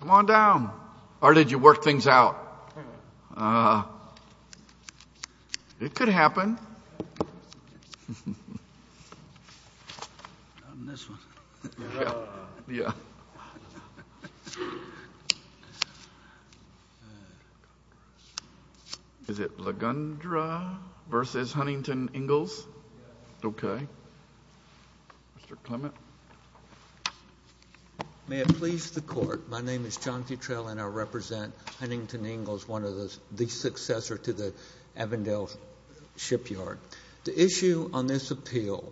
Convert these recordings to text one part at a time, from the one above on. Come on down! Or did you work things out? Uh, it could happen. May it please the court, my name is John Futrell and I represent Huntington Ingalls, one of the successors to the Avondale shipyard. The issue on this appeal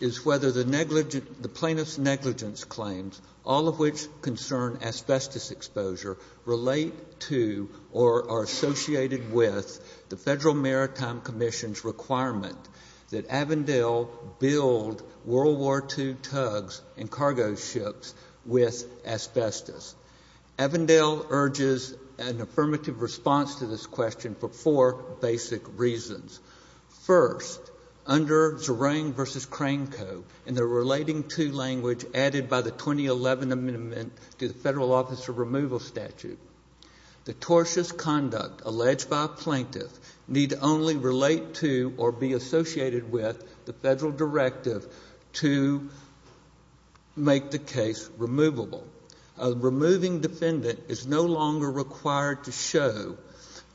is whether the plaintiff's negligence claims, all of which concern asbestos exposure, relate to or are associated with the Federal Maritime Commission's requirement that Avondale build World War II tugs and for four basic reasons. First, under Zerang v. Cranco, in the relating to language added by the 2011 amendment to the Federal Office of Removal statute, the tortious conduct alleged by a plaintiff need only relate to or be associated with the Federal directive to make the case true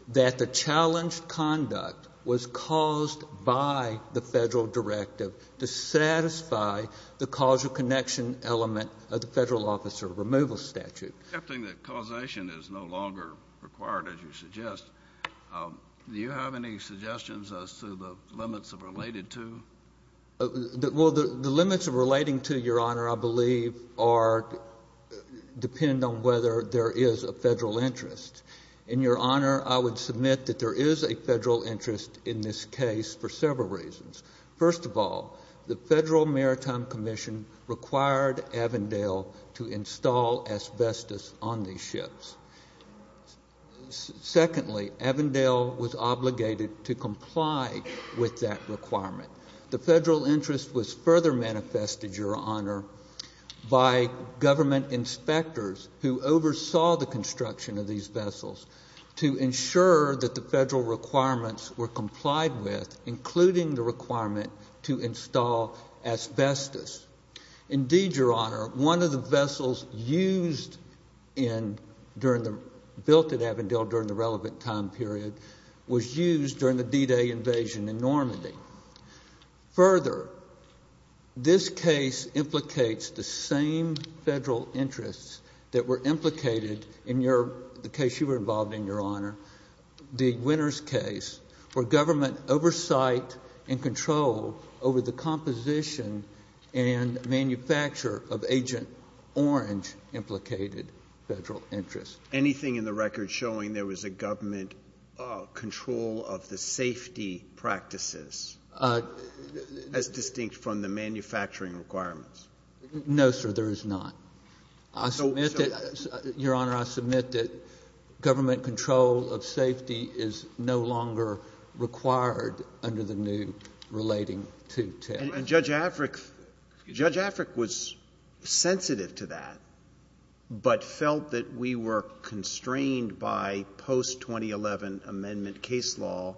that the challenged conduct was caused by the Federal directive to satisfy the causal connection element of the Federal Office of Removal statute. Accepting that causation is no longer required, as you suggest, do you have any suggestions as to the limits of related to? Well, the limits of relating to, Your Honor, I believe depend on whether there is a Federal interest. In Your Honor, I would submit that there is a Federal interest in this case for several reasons. First of all, the Federal Maritime Commission required Avondale to install asbestos on these ships. Secondly, Avondale was obligated to comply with that requirement. The Federal interest was further manifested, Your Honor, by government inspectors who oversaw the construction of these vessels to ensure that the Federal requirements were complied with, including the requirement to install asbestos. Indeed, Your Honor, one of the vessels used in, built in Avondale during the relevant time period, was used during the D-Day invasion in Normandy. Further, this case implicates the same Federal interest that were implicated in your, the case you were involved in, Your Honor, the Winters case, where government oversight and control over the composition and manufacture of Agent Orange implicated Federal interest. Anything in the record showing there was a government control of the safety practices, as distinct from the manufacturing requirements? No, sir, there is not. I submit that, Your Honor, I submit that government control of safety is no longer required under the new relating to test. And Judge Africk, Judge Africk was sensitive to that, but felt that we were constrained by post-2011 amendment case law,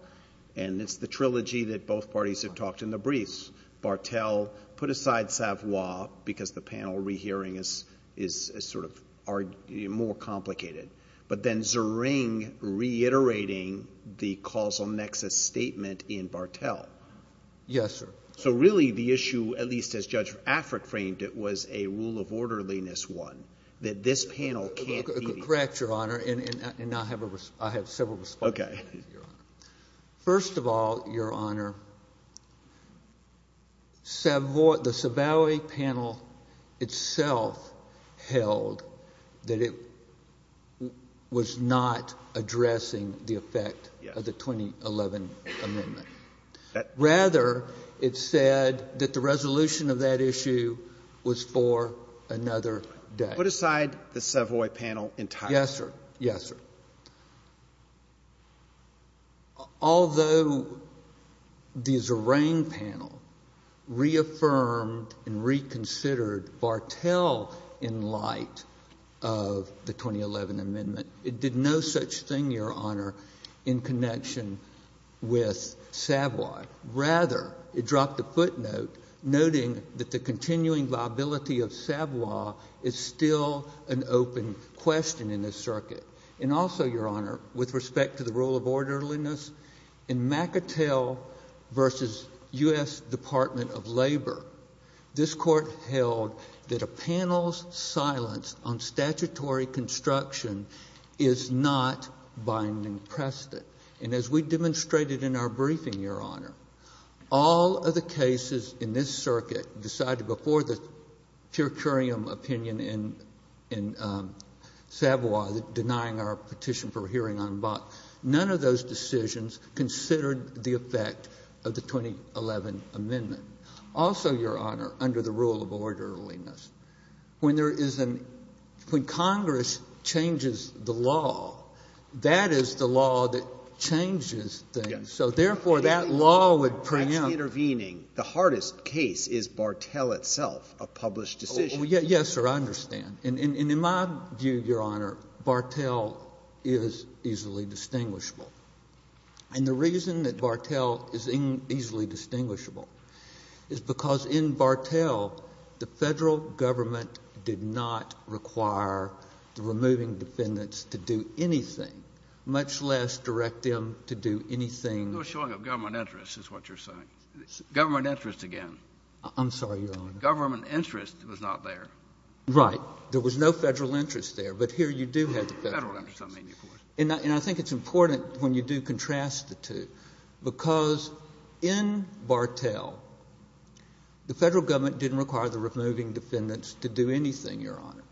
and it's the trilogy that both parties have talked in the briefs. So, Barthel put aside Savoy because the panel rehearing is sort of more complicated, but then Zering reiterating the causal nexus statement in Barthel. Yes, sir. So, really, the issue, at least as Judge Africk framed it, was a rule of orderliness one, that this panel can't be. Correct, Your Honor, and now I have several responses. Okay. First of all, Your Honor, Savoy, the Savoy panel itself held that it was not addressing the effect of the 2011 amendment. Rather, it said that the resolution of that issue was for another day. Put aside the Savoy panel entirely. Yes, sir. Yes, sir. Although the Zering panel reaffirmed and reconsidered Barthel in light of the 2011 amendment, it did no such thing, Your Honor, in connection with Savoy. Rather, it dropped a footnote noting that the continuing viability of Savoy is still an open question in this circuit. And also, Your Honor, with respect to the rule of orderliness, in McIntell v. U.S. Department of Labor, this Court held that a panel's silence on statutory construction is not binding precedent. And as we demonstrated in our briefing, Your Honor, all of the cases in this petition for hearing en bas, none of those decisions considered the effect of the 2011 amendment. Also, Your Honor, under the rule of orderliness, when there is an — when Congress changes the law, that is the law that changes things. Yes. So therefore, that law would preempt — Actually intervening. The hardest case is Barthel itself, a published decision. Well, yes, sir, I understand. And in my view, Your Honor, Barthel is easily distinguishable. And the reason that Barthel is easily distinguishable is because in Barthel, the Federal government did not require the removing defendants to do anything, much less direct them to do anything — You're showing a government interest is what you're saying. Government interest again. I'm sorry, Your Honor. Government interest was not there. Right. There was no Federal interest there. But here you do have the Federal interest. Federal interest, I mean, of course. And I think it's important, when you do contrast the two, because in Barthel, the Federal government didn't require the removing defendants to do anything, Your Honor,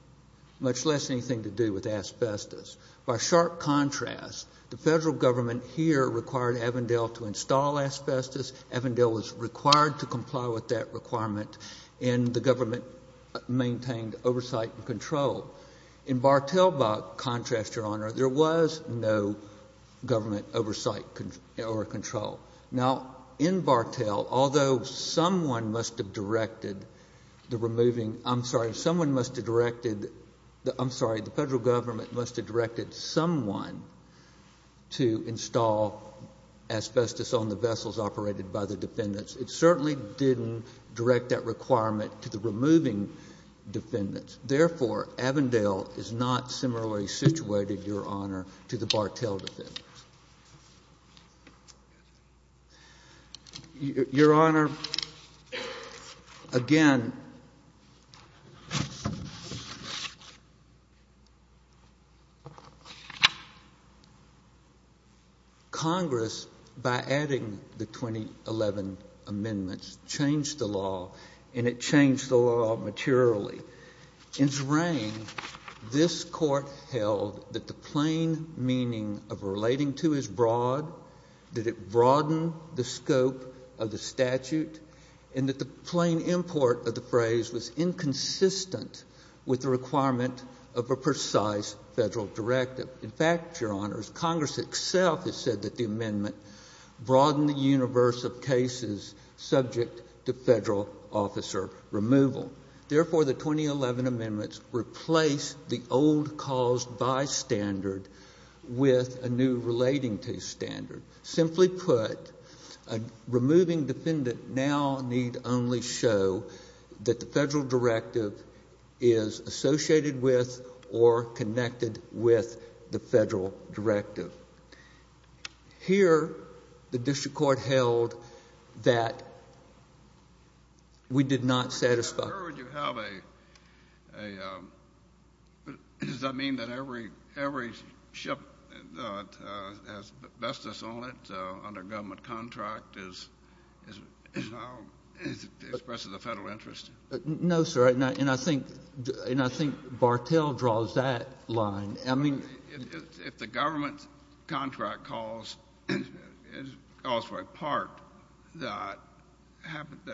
much less anything to do with asbestos. By sharp contrast, the Federal government here required Avondale to install asbestos. Avondale was required to comply with that requirement, and the government maintained oversight and control. In Barthel, by contrast, Your Honor, there was no government oversight or control. Now, in Barthel, although someone must have directed the removing — I'm sorry, someone must have directed — I'm sorry, the Federal government must have directed someone to install asbestos on the vessels operated by the defendants, it certainly didn't direct that requirement to the removing defendants. Therefore, Avondale is not similarly situated, Your Honor, to the Barthel defendants. Your Honor, again, Congress, by adding the 2011 amendments, changed the law, and it changed the law materially. In its reign, this Court held that the plain meaning of relating to is broad, that it broadened the scope of the statute, and that the plain import of the phrase was inconsistent with the requirement of a precise Federal directive. In fact, Your Honors, Congress itself has said that the amendment broadened the universe of cases subject to Federal officer removal. Therefore, the 2011 amendments replaced the old caused by standard with a new relating to standard. Simply put, a removing defendant now need only show that the Federal directive is associated with or connected with the Federal directive. Here, the district court held that we did not satisfy — Your Honor, would you have a — does that mean that every ship that has asbestos on it under a government contract expresses a Federal interest? No, sir, and I think Barthel draws that line. If the government contract calls for a part that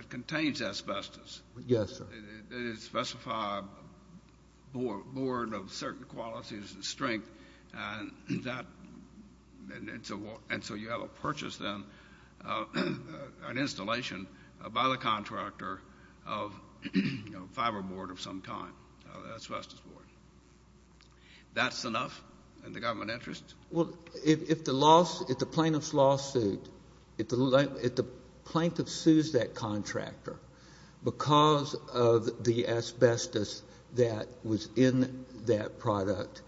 contains asbestos — Yes, sir. — and it specifies a board of certain qualities and strength, and so you have a purchase, then, an installation by the contractor of a fiber board of some kind, an asbestos board. That's enough in the government interest? Well, if the plaintiff's lawsuit — if the plaintiff sues that contractor because of the asbestos that was in that product,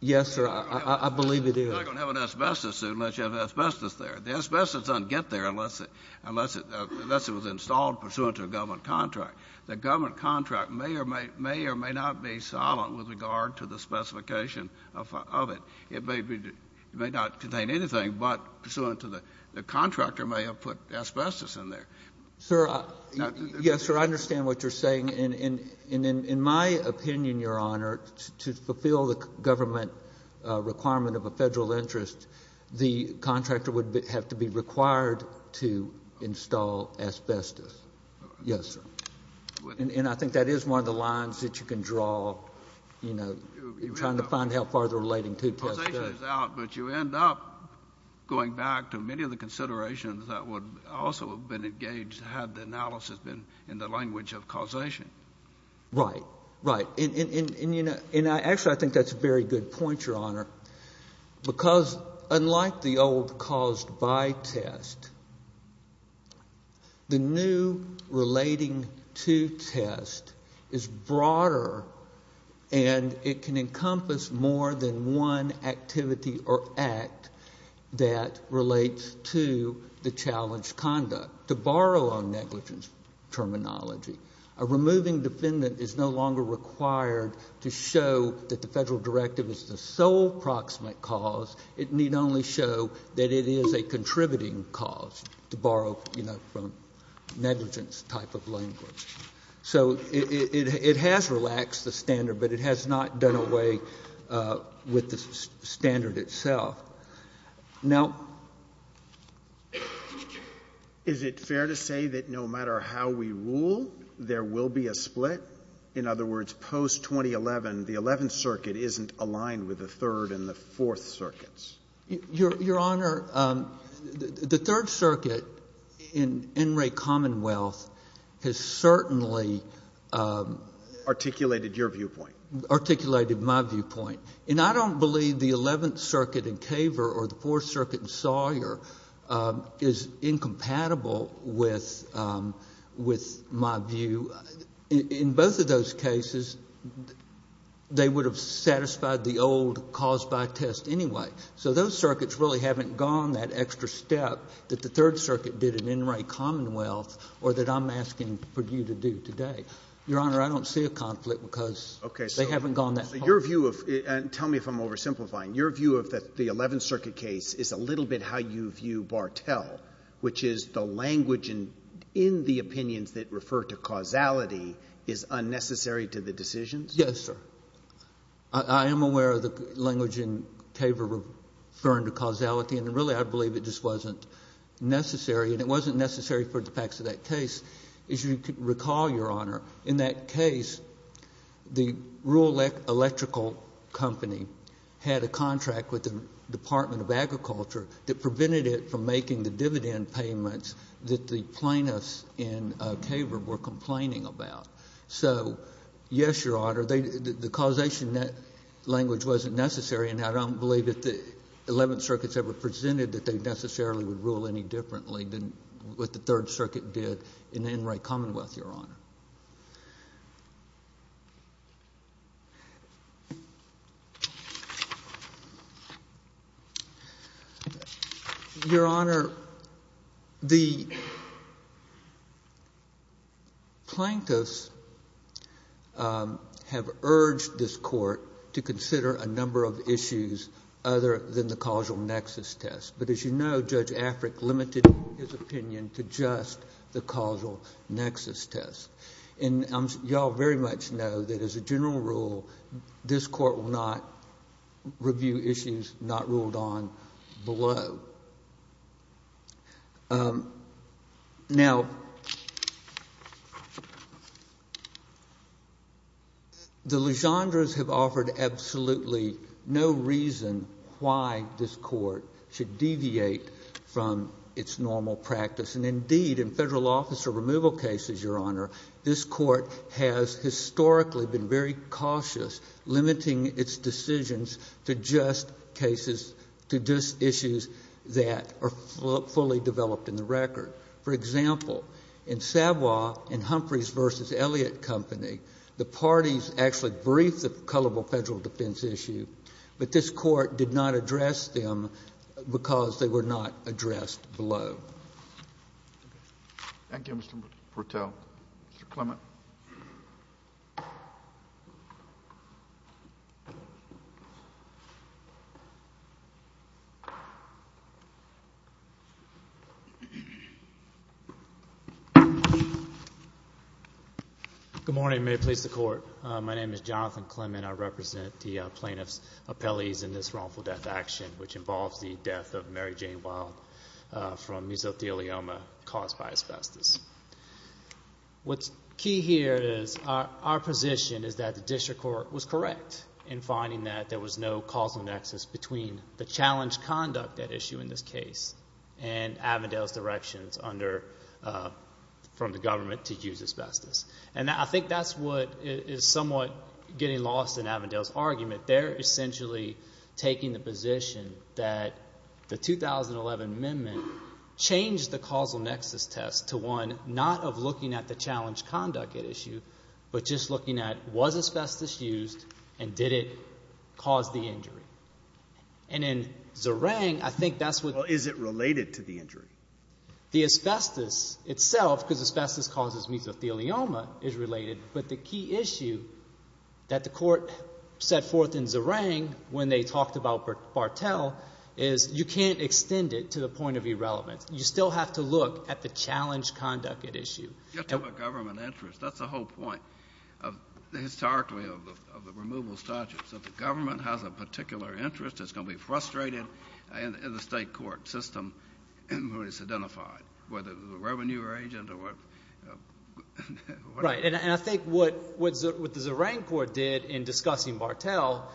yes, sir, I believe it is. You're not going to have an asbestos suit unless you have asbestos there. The asbestos doesn't get there unless it was installed pursuant to a government contract. The government contract may or may not be silent with regard to the specification of it. It may be — it may not contain anything, but pursuant to the — the contractor may have put asbestos in there. Sir, I — yes, sir, I understand what you're saying. And in my opinion, Your Honor, to fulfill the government requirement of a Federal interest, the contractor would have to be required to install asbestos. Yes, sir. And I think that is one of the lines that you can draw, you know, trying to find out how far the relating to test goes. Causation is out, but you end up going back to many of the considerations that would also have been engaged had the analysis been in the language of causation. Right. Right. And, you know — and actually, I think that's a very good point, Your Honor, because unlike the old caused by test, the new relating to test is broader and it can encompass more than one activity or act that relates to the challenge conduct. To borrow on negligence terminology, a removing defendant is no longer required to show that the Federal directive is the sole proximate cause. It need only show that it is a contributing cause, to borrow, you know, from negligence type of language. So it has relaxed the standard, but it has not done away with the standard itself. Now — Is it fair to say that no matter how we rule, there will be a split? In other words, post-2011, the Eleventh Circuit isn't aligned with the Third and the Fourth Circuits? Your Honor, the Third Circuit in Enright Commonwealth has certainly — Articulated your viewpoint. And I don't believe the Eleventh Circuit in Kaver or the Fourth Circuit in Sawyer is incompatible with my view. In both of those cases, they would have satisfied the old caused by test anyway. So those circuits really haven't gone that extra step that the Third Circuit did in Enright Commonwealth or that I'm asking for you to do today. Your Honor, I don't see a conflict because they haven't gone that far. So your view of — tell me if I'm oversimplifying. Your view of the Eleventh Circuit case is a little bit how you view Bartel, which is the language in the opinions that refer to causality is unnecessary to the decisions? Yes, sir. I am aware of the language in Kaver referring to causality, and really I believe it just wasn't necessary. And it wasn't necessary for the facts of that case. As you recall, Your Honor, in that case, the rural electrical company had a contract with the Department of Agriculture that prevented it from making the dividend payments that the plaintiffs in Kaver were complaining about. So yes, Your Honor, the causation language wasn't necessary, and I don't believe that the Eleventh Circuits ever presented that they necessarily would rule any differently than what the Third Circuit did in the Enright Commonwealth, Your Honor. Your Honor, the plaintiffs have urged this Court to consider a number of issues other than the causal nexus test. But as you know, Judge Afric limited his opinion to just the causal nexus test. And you all very much know that as a general rule, this Court will not review issues not ruled on below. Now, the Legendres have offered absolutely no reason why this Court should deviate from its normal practice. And indeed, in federal officer removal cases, Your Honor, this Court has historically been very cautious limiting its decisions to just cases, to just issues that are fully developed in the record. For example, in Savoie, in Humphreys v. Elliott Company, the parties actually briefed the culpable federal defense issue, but this Court did not address them because they were not addressed below. Thank you, Mr. Brutell. Mr. Clement. Good morning. May it please the Court. My name is Jonathan Clement. I represent the plaintiffs' appellees in this wrongful death action, which involves the death of Mary Jane Wilde from mesothelioma caused by asbestos. What's key here is our position is that the District Court was correct in finding that there was no causal nexus between the challenge conduct at issue in this case and Avondale's directions from the government to use asbestos. And I think that's what is somewhat getting lost in Avondale's argument. They're essentially taking the position that the 2011 amendment changed the causal nexus test to one not of looking at the challenge conduct at issue, but just looking at was asbestos used and did it cause the injury. And in Zerang, I think that's what... Well, is it related to the injury? The asbestos itself, because asbestos causes mesothelioma, is related, but the key issue that the Court set forth in Zerang when they talked about Bartel is you can't extend it to the point of irrelevance. You still have to look at the challenge conduct at issue. You're talking about government interest. That's the whole point, historically, of the removal statute. So if the government has a particular interest, it's going to be frustrated in the state court system when it's identified, whether it's a revenue agent or... Right. And I think what the Zerang Court did in discussing Bartel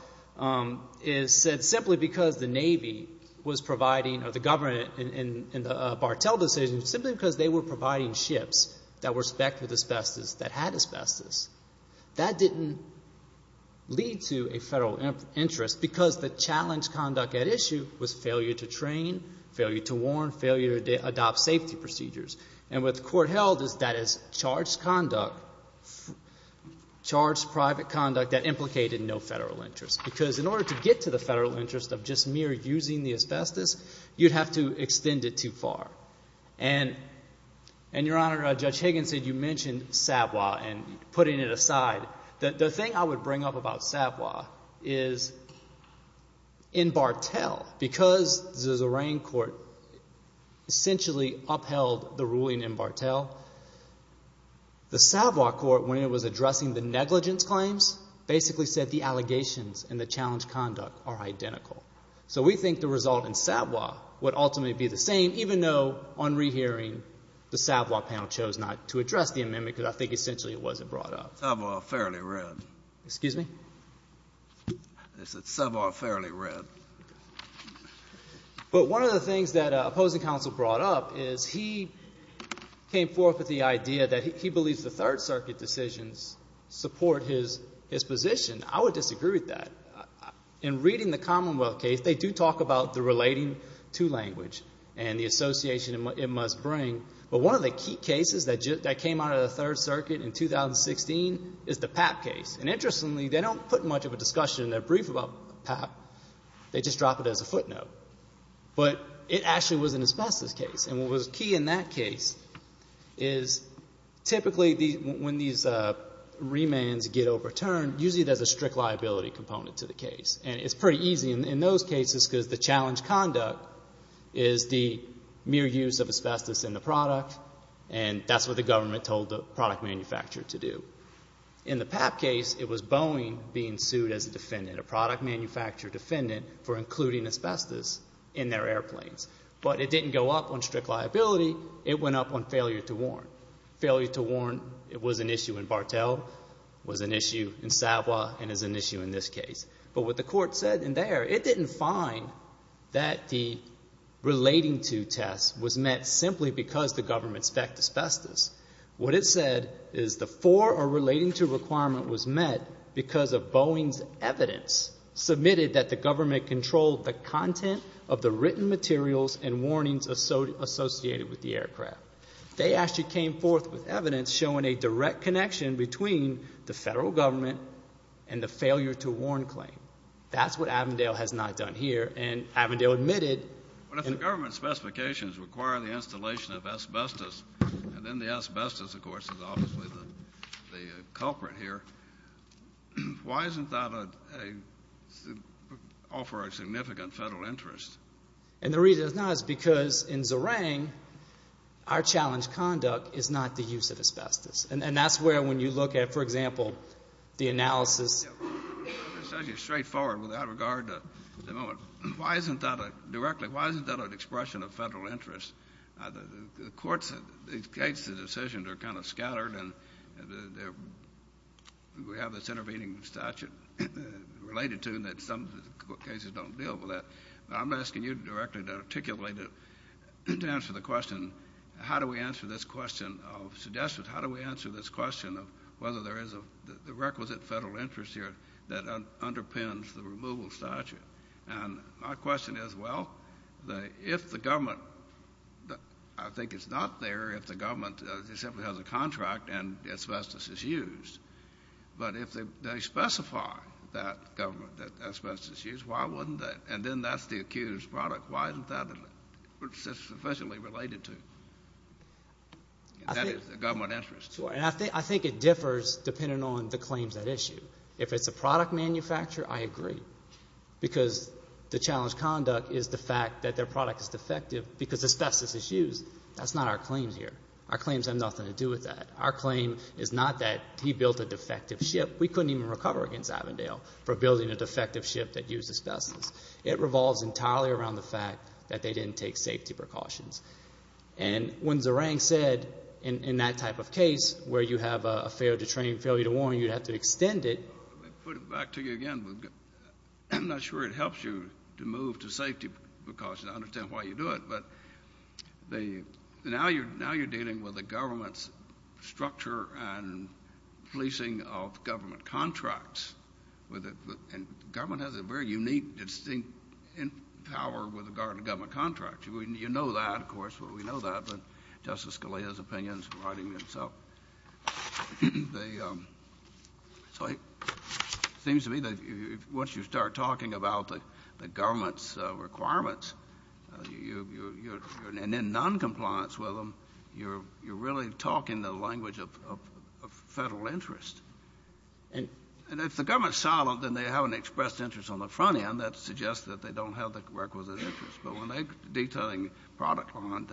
is said simply because the Navy was providing, or the government in the Bartel decision, simply because they were providing ships that were specced with asbestos that had asbestos. That didn't lead to a federal interest because the challenge conduct at issue was failure to train, failure to warn, failure to adopt safety procedures. And what the Court held is that it's charged conduct, charged private conduct that implicated no federal interest. Because in order to get to the federal interest of just mere using the asbestos, you'd have to extend it too far. And Your Honor, Judge Higgins said you mentioned Savoy and putting it aside. The thing I would bring up about Savoy is in Bartel, because the Zerang Court essentially upheld the ruling in Bartel, the Savoy Court, when it was addressing the negligence claims, basically said the allegations and the challenge conduct are identical. So we think the result in Savoy would ultimately be the same, even though on rehearing, the Savoy panel chose not to address the amendment because I think essentially it wasn't brought up. Savoy, fairly read. Excuse me? Savoy, fairly read. But one of the things that opposing counsel brought up is he came forth with the idea that he believes the Third Circuit decisions support his position. I would disagree with that. In reading the Commonwealth case, they do talk about the relating to language and the association it must bring. But one of the key cases that came out of the Third Circuit in 2016 is the Papp case. And interestingly, they don't put much of a discussion in their brief about Papp. They just drop it as a footnote. But it actually was an asbestos case. And what was key in that case is typically when these remands get overturned, usually there's a strict liability component to the case. And it's pretty easy in those cases because the challenge conduct is the mere use of asbestos in the product. And that's what the government told the product manufacturer to do. In the Papp case, it was Boeing being sued as a defendant, a product manufacturer defendant, for including asbestos in their airplanes. But it didn't go up on strict liability. It went up on failure to warrant. Failure to warrant was an issue in mind that the relating to test was met simply because the government specced asbestos. What it said is the for or relating to requirement was met because of Boeing's evidence submitted that the government controlled the content of the written materials and warnings associated with the aircraft. They actually came forth with evidence showing a direct connection between the federal government and the failure to warrant claim. That's what Avondale has not done here. And Avondale admitted. But if the government specifications require the installation of asbestos, and then the asbestos, of course, is obviously the culprit here, why isn't that a offer of significant federal interest? And the reason it's not is because in Zarang, our challenge conduct is not the use of asbestos. And that's where, when you look at, for example, the analysis. It's actually straightforward without regard to the moment. Why isn't that a, directly, why isn't that an expression of federal interest? The courts, these cases and decisions are kind of scattered and we have this intervening statute related to them that some cases don't deal with that. But I'm asking you directly and articulately to answer the question, how do we answer this question of whether there is a requisite federal interest here that underpins the removal statute? And my question is, well, if the government, I think it's not there if the government simply has a contract and asbestos is used. But if they specify that government that asbestos is used, why wouldn't they? And then that's the accused product. Why isn't that sufficiently related to government interest? I think it differs depending on the claims at issue. If it's a product manufacturer, I agree. Because the challenge conduct is the fact that their product is defective because asbestos is used. That's not our claim here. Our claims have nothing to do with that. Our claim is not that he built a defective ship. We couldn't even recover against Avondale for building a defective ship that used asbestos. It revolves entirely around the fact that they didn't take safety precautions. And when Zerang said in that type of case where you have a failure to train, failure to warn, you'd have to extend it. Let me put it back to you again. I'm not sure it helps you to move to safety precautions. I understand why you do it. But now you're dealing with the government's structure and policing of government contracts. And government has a very unique, distinct power with regard to government contracts. You know that, of course. We know that. But Justice Scalia's opinion is riding with himself. So it seems to me that once you start talking about the government's requirements, and in noncompliance with them, you're really talking the language of federal interest. And if the government's silent, then they haven't expressed interest on the front end. That suggests that they don't have the requisite interest. But when they're detailing product line,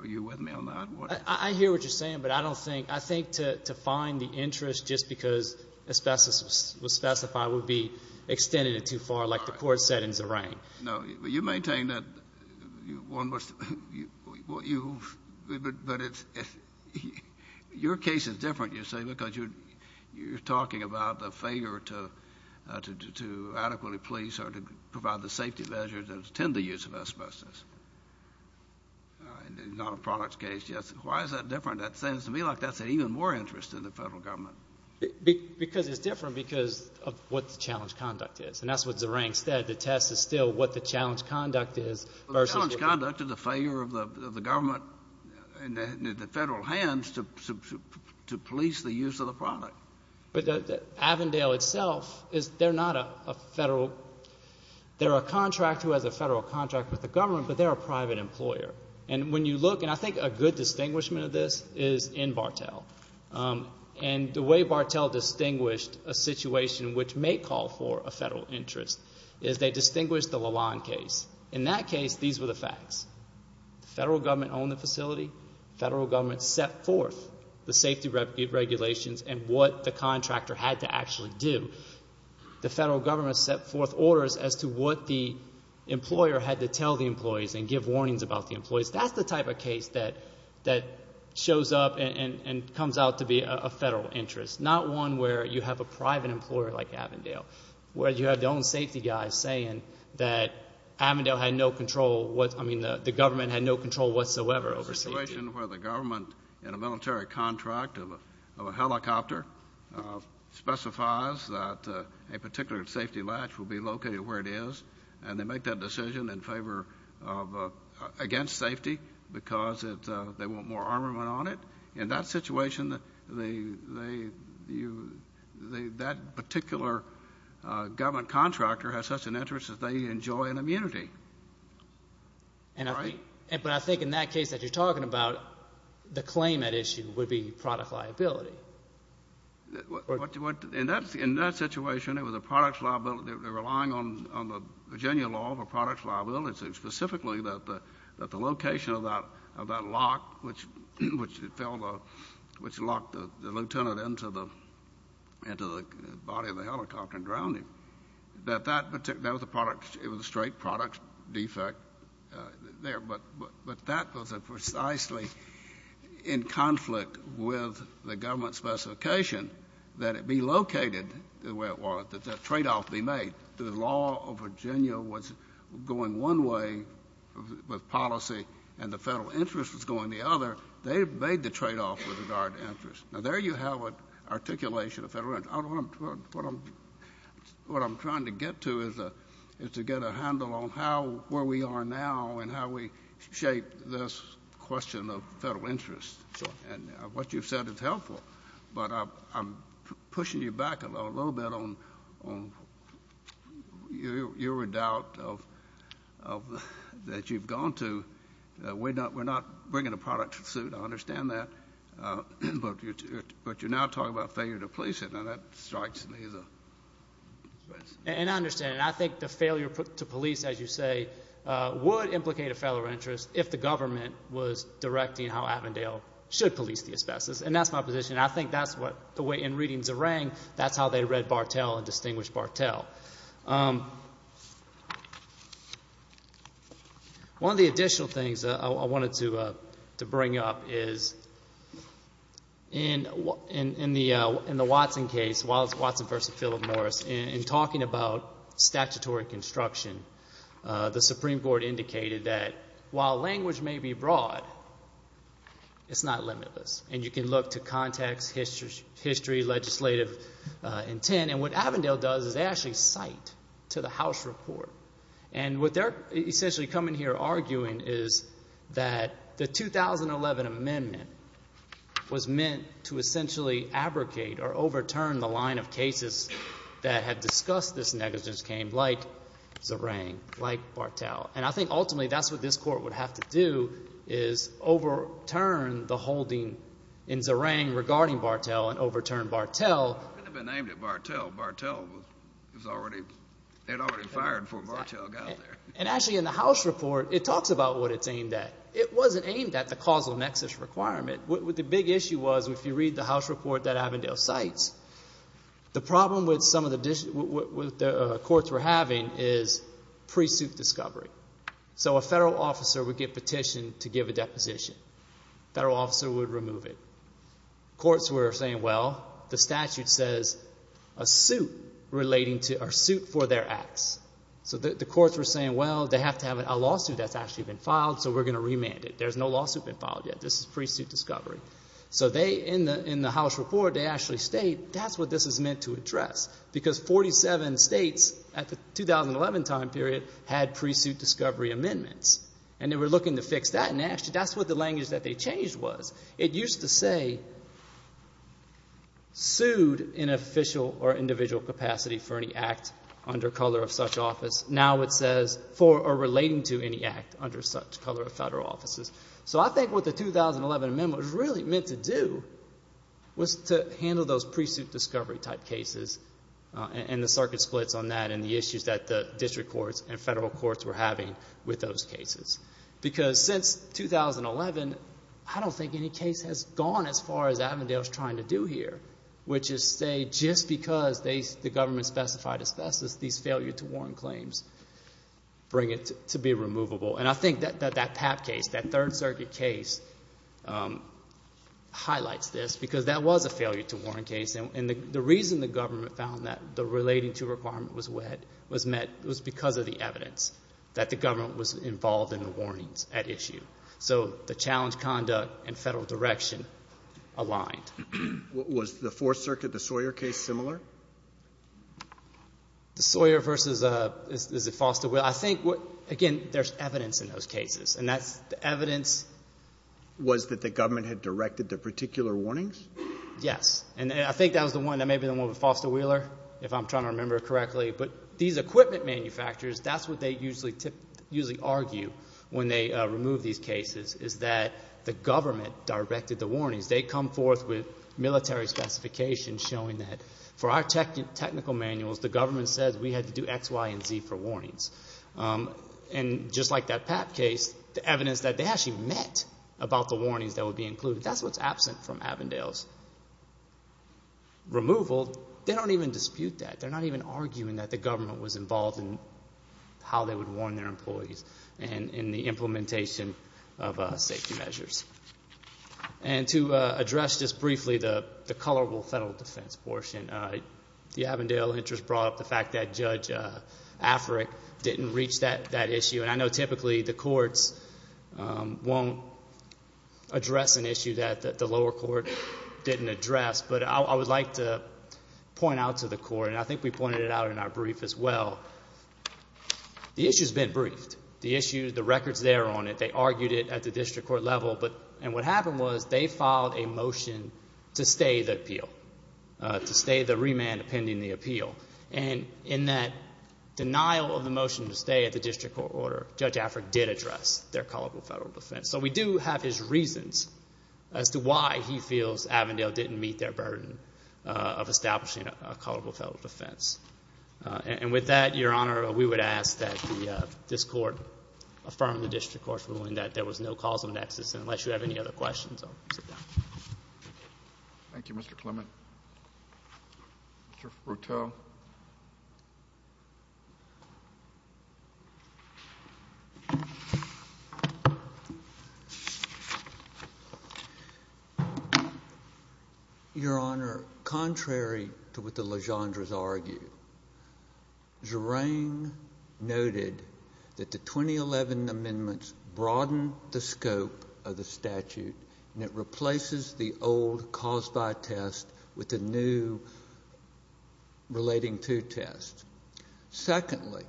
are you with me on that? I hear what you're saying, but I think to find the interest just because asbestos was specified would be extending it too far, like the court said in Zerang. No, but you maintain that. Your case is different, you see, because you're talking about the failure to adequately police or to provide the safety measures that tend to use of asbestos. It's not a products case, yes. Why is that different? It seems to me like that's an even more interest in the federal government. Because it's different because of what the challenge conduct is. And that's what Zerang said. The test is still what the challenge conduct is versus what the challenge conduct is. The challenge conduct is the failure of the government and the federal hands to police the use of the product. But Avondale itself, they're not a federal – they're a contractor who has a federal contract with the government, but they're a private employer. And when you look – and I think a good distinguishment of this is in Bartell. And the way Bartell distinguished a situation which may call for a federal interest is they distinguished the Lalonde case. In that case, these were the facts. The federal government owned the facility. The federal government set forth the safety regulations and what the contractor had to actually do. The federal government set forth orders as to what the employer had to tell the employees and give warnings about the employees. That's the type of case that shows up and comes out to be a federal interest, not one where you have a private employer like Avondale, where you have your own safety guys saying that Avondale had no control – I mean the government had no control whatsoever over safety. The situation where the government in a military contract of a helicopter specifies that a particular safety latch will be located where it is and they make that decision in favor of – against safety because they want more armament on it. In that situation, that particular government contractor has such an interest that they enjoy an immunity. But I think in that case that you're talking about, the claim at issue would be product liability. In that situation, it was a product liability. They were relying on the Virginia law for product liability, specifically that the location of that lock which locked the lieutenant into the body of the helicopter and drowned him. That was a product – it was a straight product defect there. But that was precisely in conflict with the government specification that it be located the way it was, that that tradeoff be made. The law of Virginia was going one way with policy and the federal interest was going the other. They made the tradeoff with regard to interest. Now, there you have an articulation of federal interest. What I'm trying to get to is to get a handle on where we are now and how we shape this question of federal interest. And what you've said is helpful, but I'm pushing you back a little bit on your doubt that you've gone to. We're not bringing a product to suit. I understand that. But you're now talking about failure to police it, and that strikes me as a – And I understand, and I think the failure to police, as you say, would implicate a federal interest if the government was directing how Avondale should police the asbestos, and that's my position. I think that's what – the way in reading Zerang, that's how they read Bartel and distinguished Bartel. One of the additional things I wanted to bring up is in the Watson case, Watson v. Philip Morris, in talking about statutory construction, the Supreme Court indicated that while language may be broad, it's not limitless, and you can look to context, history, legislative intent. And what Avondale does is they actually cite to the House report. And what they're essentially coming here arguing is that the 2011 amendment was meant to essentially abrogate or overturn the line of cases that had discussed this negligence claim like Zerang, like Bartel. And I think ultimately that's what this court would have to do is overturn the holding in Zerang regarding Bartel and overturn Bartel. It would have been aimed at Bartel. Bartel was already – they had already fired before Bartel got there. And actually in the House report it talks about what it's aimed at. It wasn't aimed at the causal nexus requirement. The big issue was if you read the House report that Avondale cites, the problem with some of the courts were having is pre-suit discovery. So a federal officer would get petitioned to give a deposition. A federal officer would remove it. Courts were saying, well, the statute says a suit for their acts. So the courts were saying, well, they have to have a lawsuit that's actually been filed, so we're going to remand it. There's no lawsuit been filed yet. This is pre-suit discovery. So in the House report they actually state that's what this is meant to address because 47 states at the 2011 time period had pre-suit discovery amendments. And they were looking to fix that, and actually that's what the language that they changed was. It used to say sued in official or individual capacity for any act under color of such office. Now it says for or relating to any act under such color of federal offices. So I think what the 2011 amendment was really meant to do was to handle those pre-suit discovery type cases and the circuit splits on that and the issues that the district courts and federal courts were having with those cases. Because since 2011, I don't think any case has gone as far as Avondale is trying to do here, which is say just because the government specified asbestos, these failure to warrant claims bring it to be removable. And I think that that PAP case, that Third Circuit case, highlights this because that was a failure to warrant case. And the reason the government found that the relating to requirement was met was because of the evidence that the government was involved in the warnings at issue. So the challenge conduct and federal direction aligned. Was the Fourth Circuit, the Sawyer case, similar? The Sawyer versus, is it Foster-Wheeler? I think, again, there's evidence in those cases, and that's the evidence. Was that the government had directed the particular warnings? Yes. And I think that was the one, maybe the one with Foster-Wheeler, if I'm trying to remember correctly. But these equipment manufacturers, that's what they usually argue when they remove these cases, is that the government directed the warnings. They come forth with military specifications showing that for our technical manuals, the government says we had to do X, Y, and Z for warnings. And just like that PAP case, the evidence that they actually met about the warnings that would be included, that's what's absent from Avondale's removal. They don't even dispute that. They're not even arguing that the government was involved in how they would warn their employees in the implementation of safety measures. And to address just briefly the colorable federal defense portion, the Avondale interest brought up the fact that Judge Afric didn't reach that issue. And I know typically the courts won't address an issue that the lower court didn't address. But I would like to point out to the court, and I think we pointed it out in our brief as well, the issue's been briefed. The issue, the record's there on it. They argued it at the district court level. And what happened was they filed a motion to stay the appeal, to stay the remand pending the appeal. And in that denial of the motion to stay at the district court order, Judge Afric did address their colorable federal defense. So we do have his reasons as to why he feels Avondale didn't meet their burden of establishing a colorable federal defense. And with that, Your Honor, we would ask that this court affirm the district court's ruling that there was no causal nexus. And unless you have any other questions, I'll sit down. Thank you, Mr. Clement. Mr. Fruteau. Your Honor, contrary to what the Legendres argue, Zerang noted that the 2011 amendments broadened the scope of the statute and it replaces the old cause by test with a new relating to test. Secondly,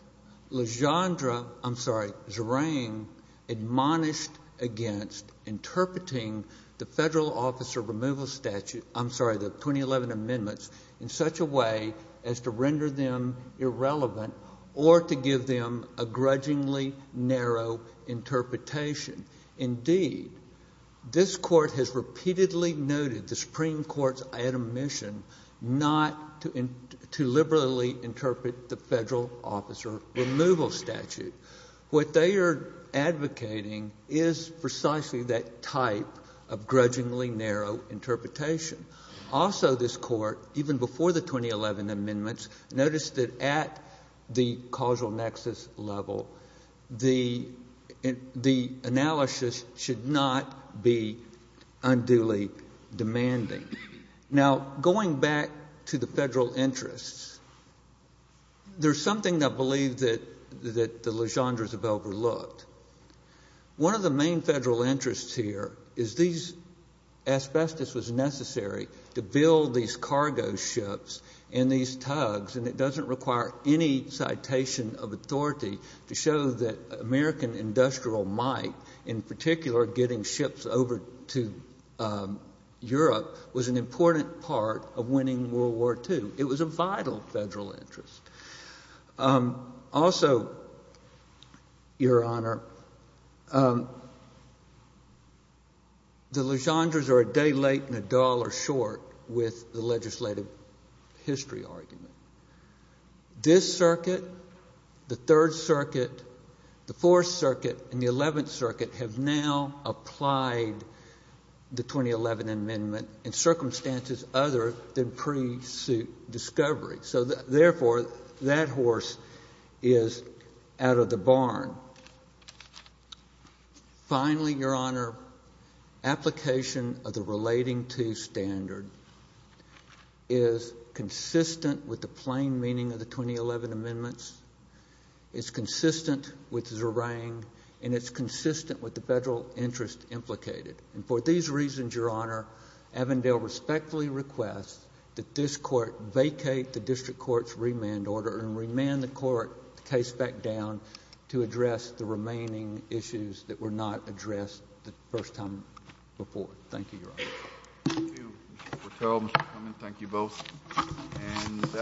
Legendre, I'm sorry, Zerang admonished against interpreting the federal officer removal statute, I'm sorry, the 2011 amendments in such a way as to render them irrelevant or to give them a grudgingly narrow interpretation. Indeed, this court has repeatedly noted the Supreme Court's admission not to liberally interpret the federal officer removal statute. What they are advocating is precisely that type of grudgingly narrow interpretation. Also, this court, even before the 2011 amendments, noticed that at the causal nexus level, the analysis should not be unduly demanding. Now, going back to the federal interests, there's something I believe that the Legendres have overlooked. One of the main federal interests here is these asbestos was necessary to build these cargo ships and these tugs, and it doesn't require any citation of authority to show that American industrial might, in particular getting ships over to Europe, was an important part of winning World War II. It was a vital federal interest. Also, Your Honor, the Legendres are a day late and a dollar short with the legislative history argument. This circuit, the Third Circuit, the Fourth Circuit, and the Eleventh Circuit have now applied the 2011 amendment in circumstances other than pre-suit discovery. So, therefore, that horse is out of the barn. Finally, Your Honor, application of the relating to standard is consistent with the plain meaning of the 2011 amendments. It's consistent with Zerang, and it's consistent with the federal interest implicated. And for these reasons, Your Honor, Avondale respectfully requests that this court vacate the district court's remand order and remand the court case back down to address the remaining issues that were not addressed the first time before. Thank you, Your Honor. Thank you, Mr. Porteo, Mr. Cummings. Thank you both.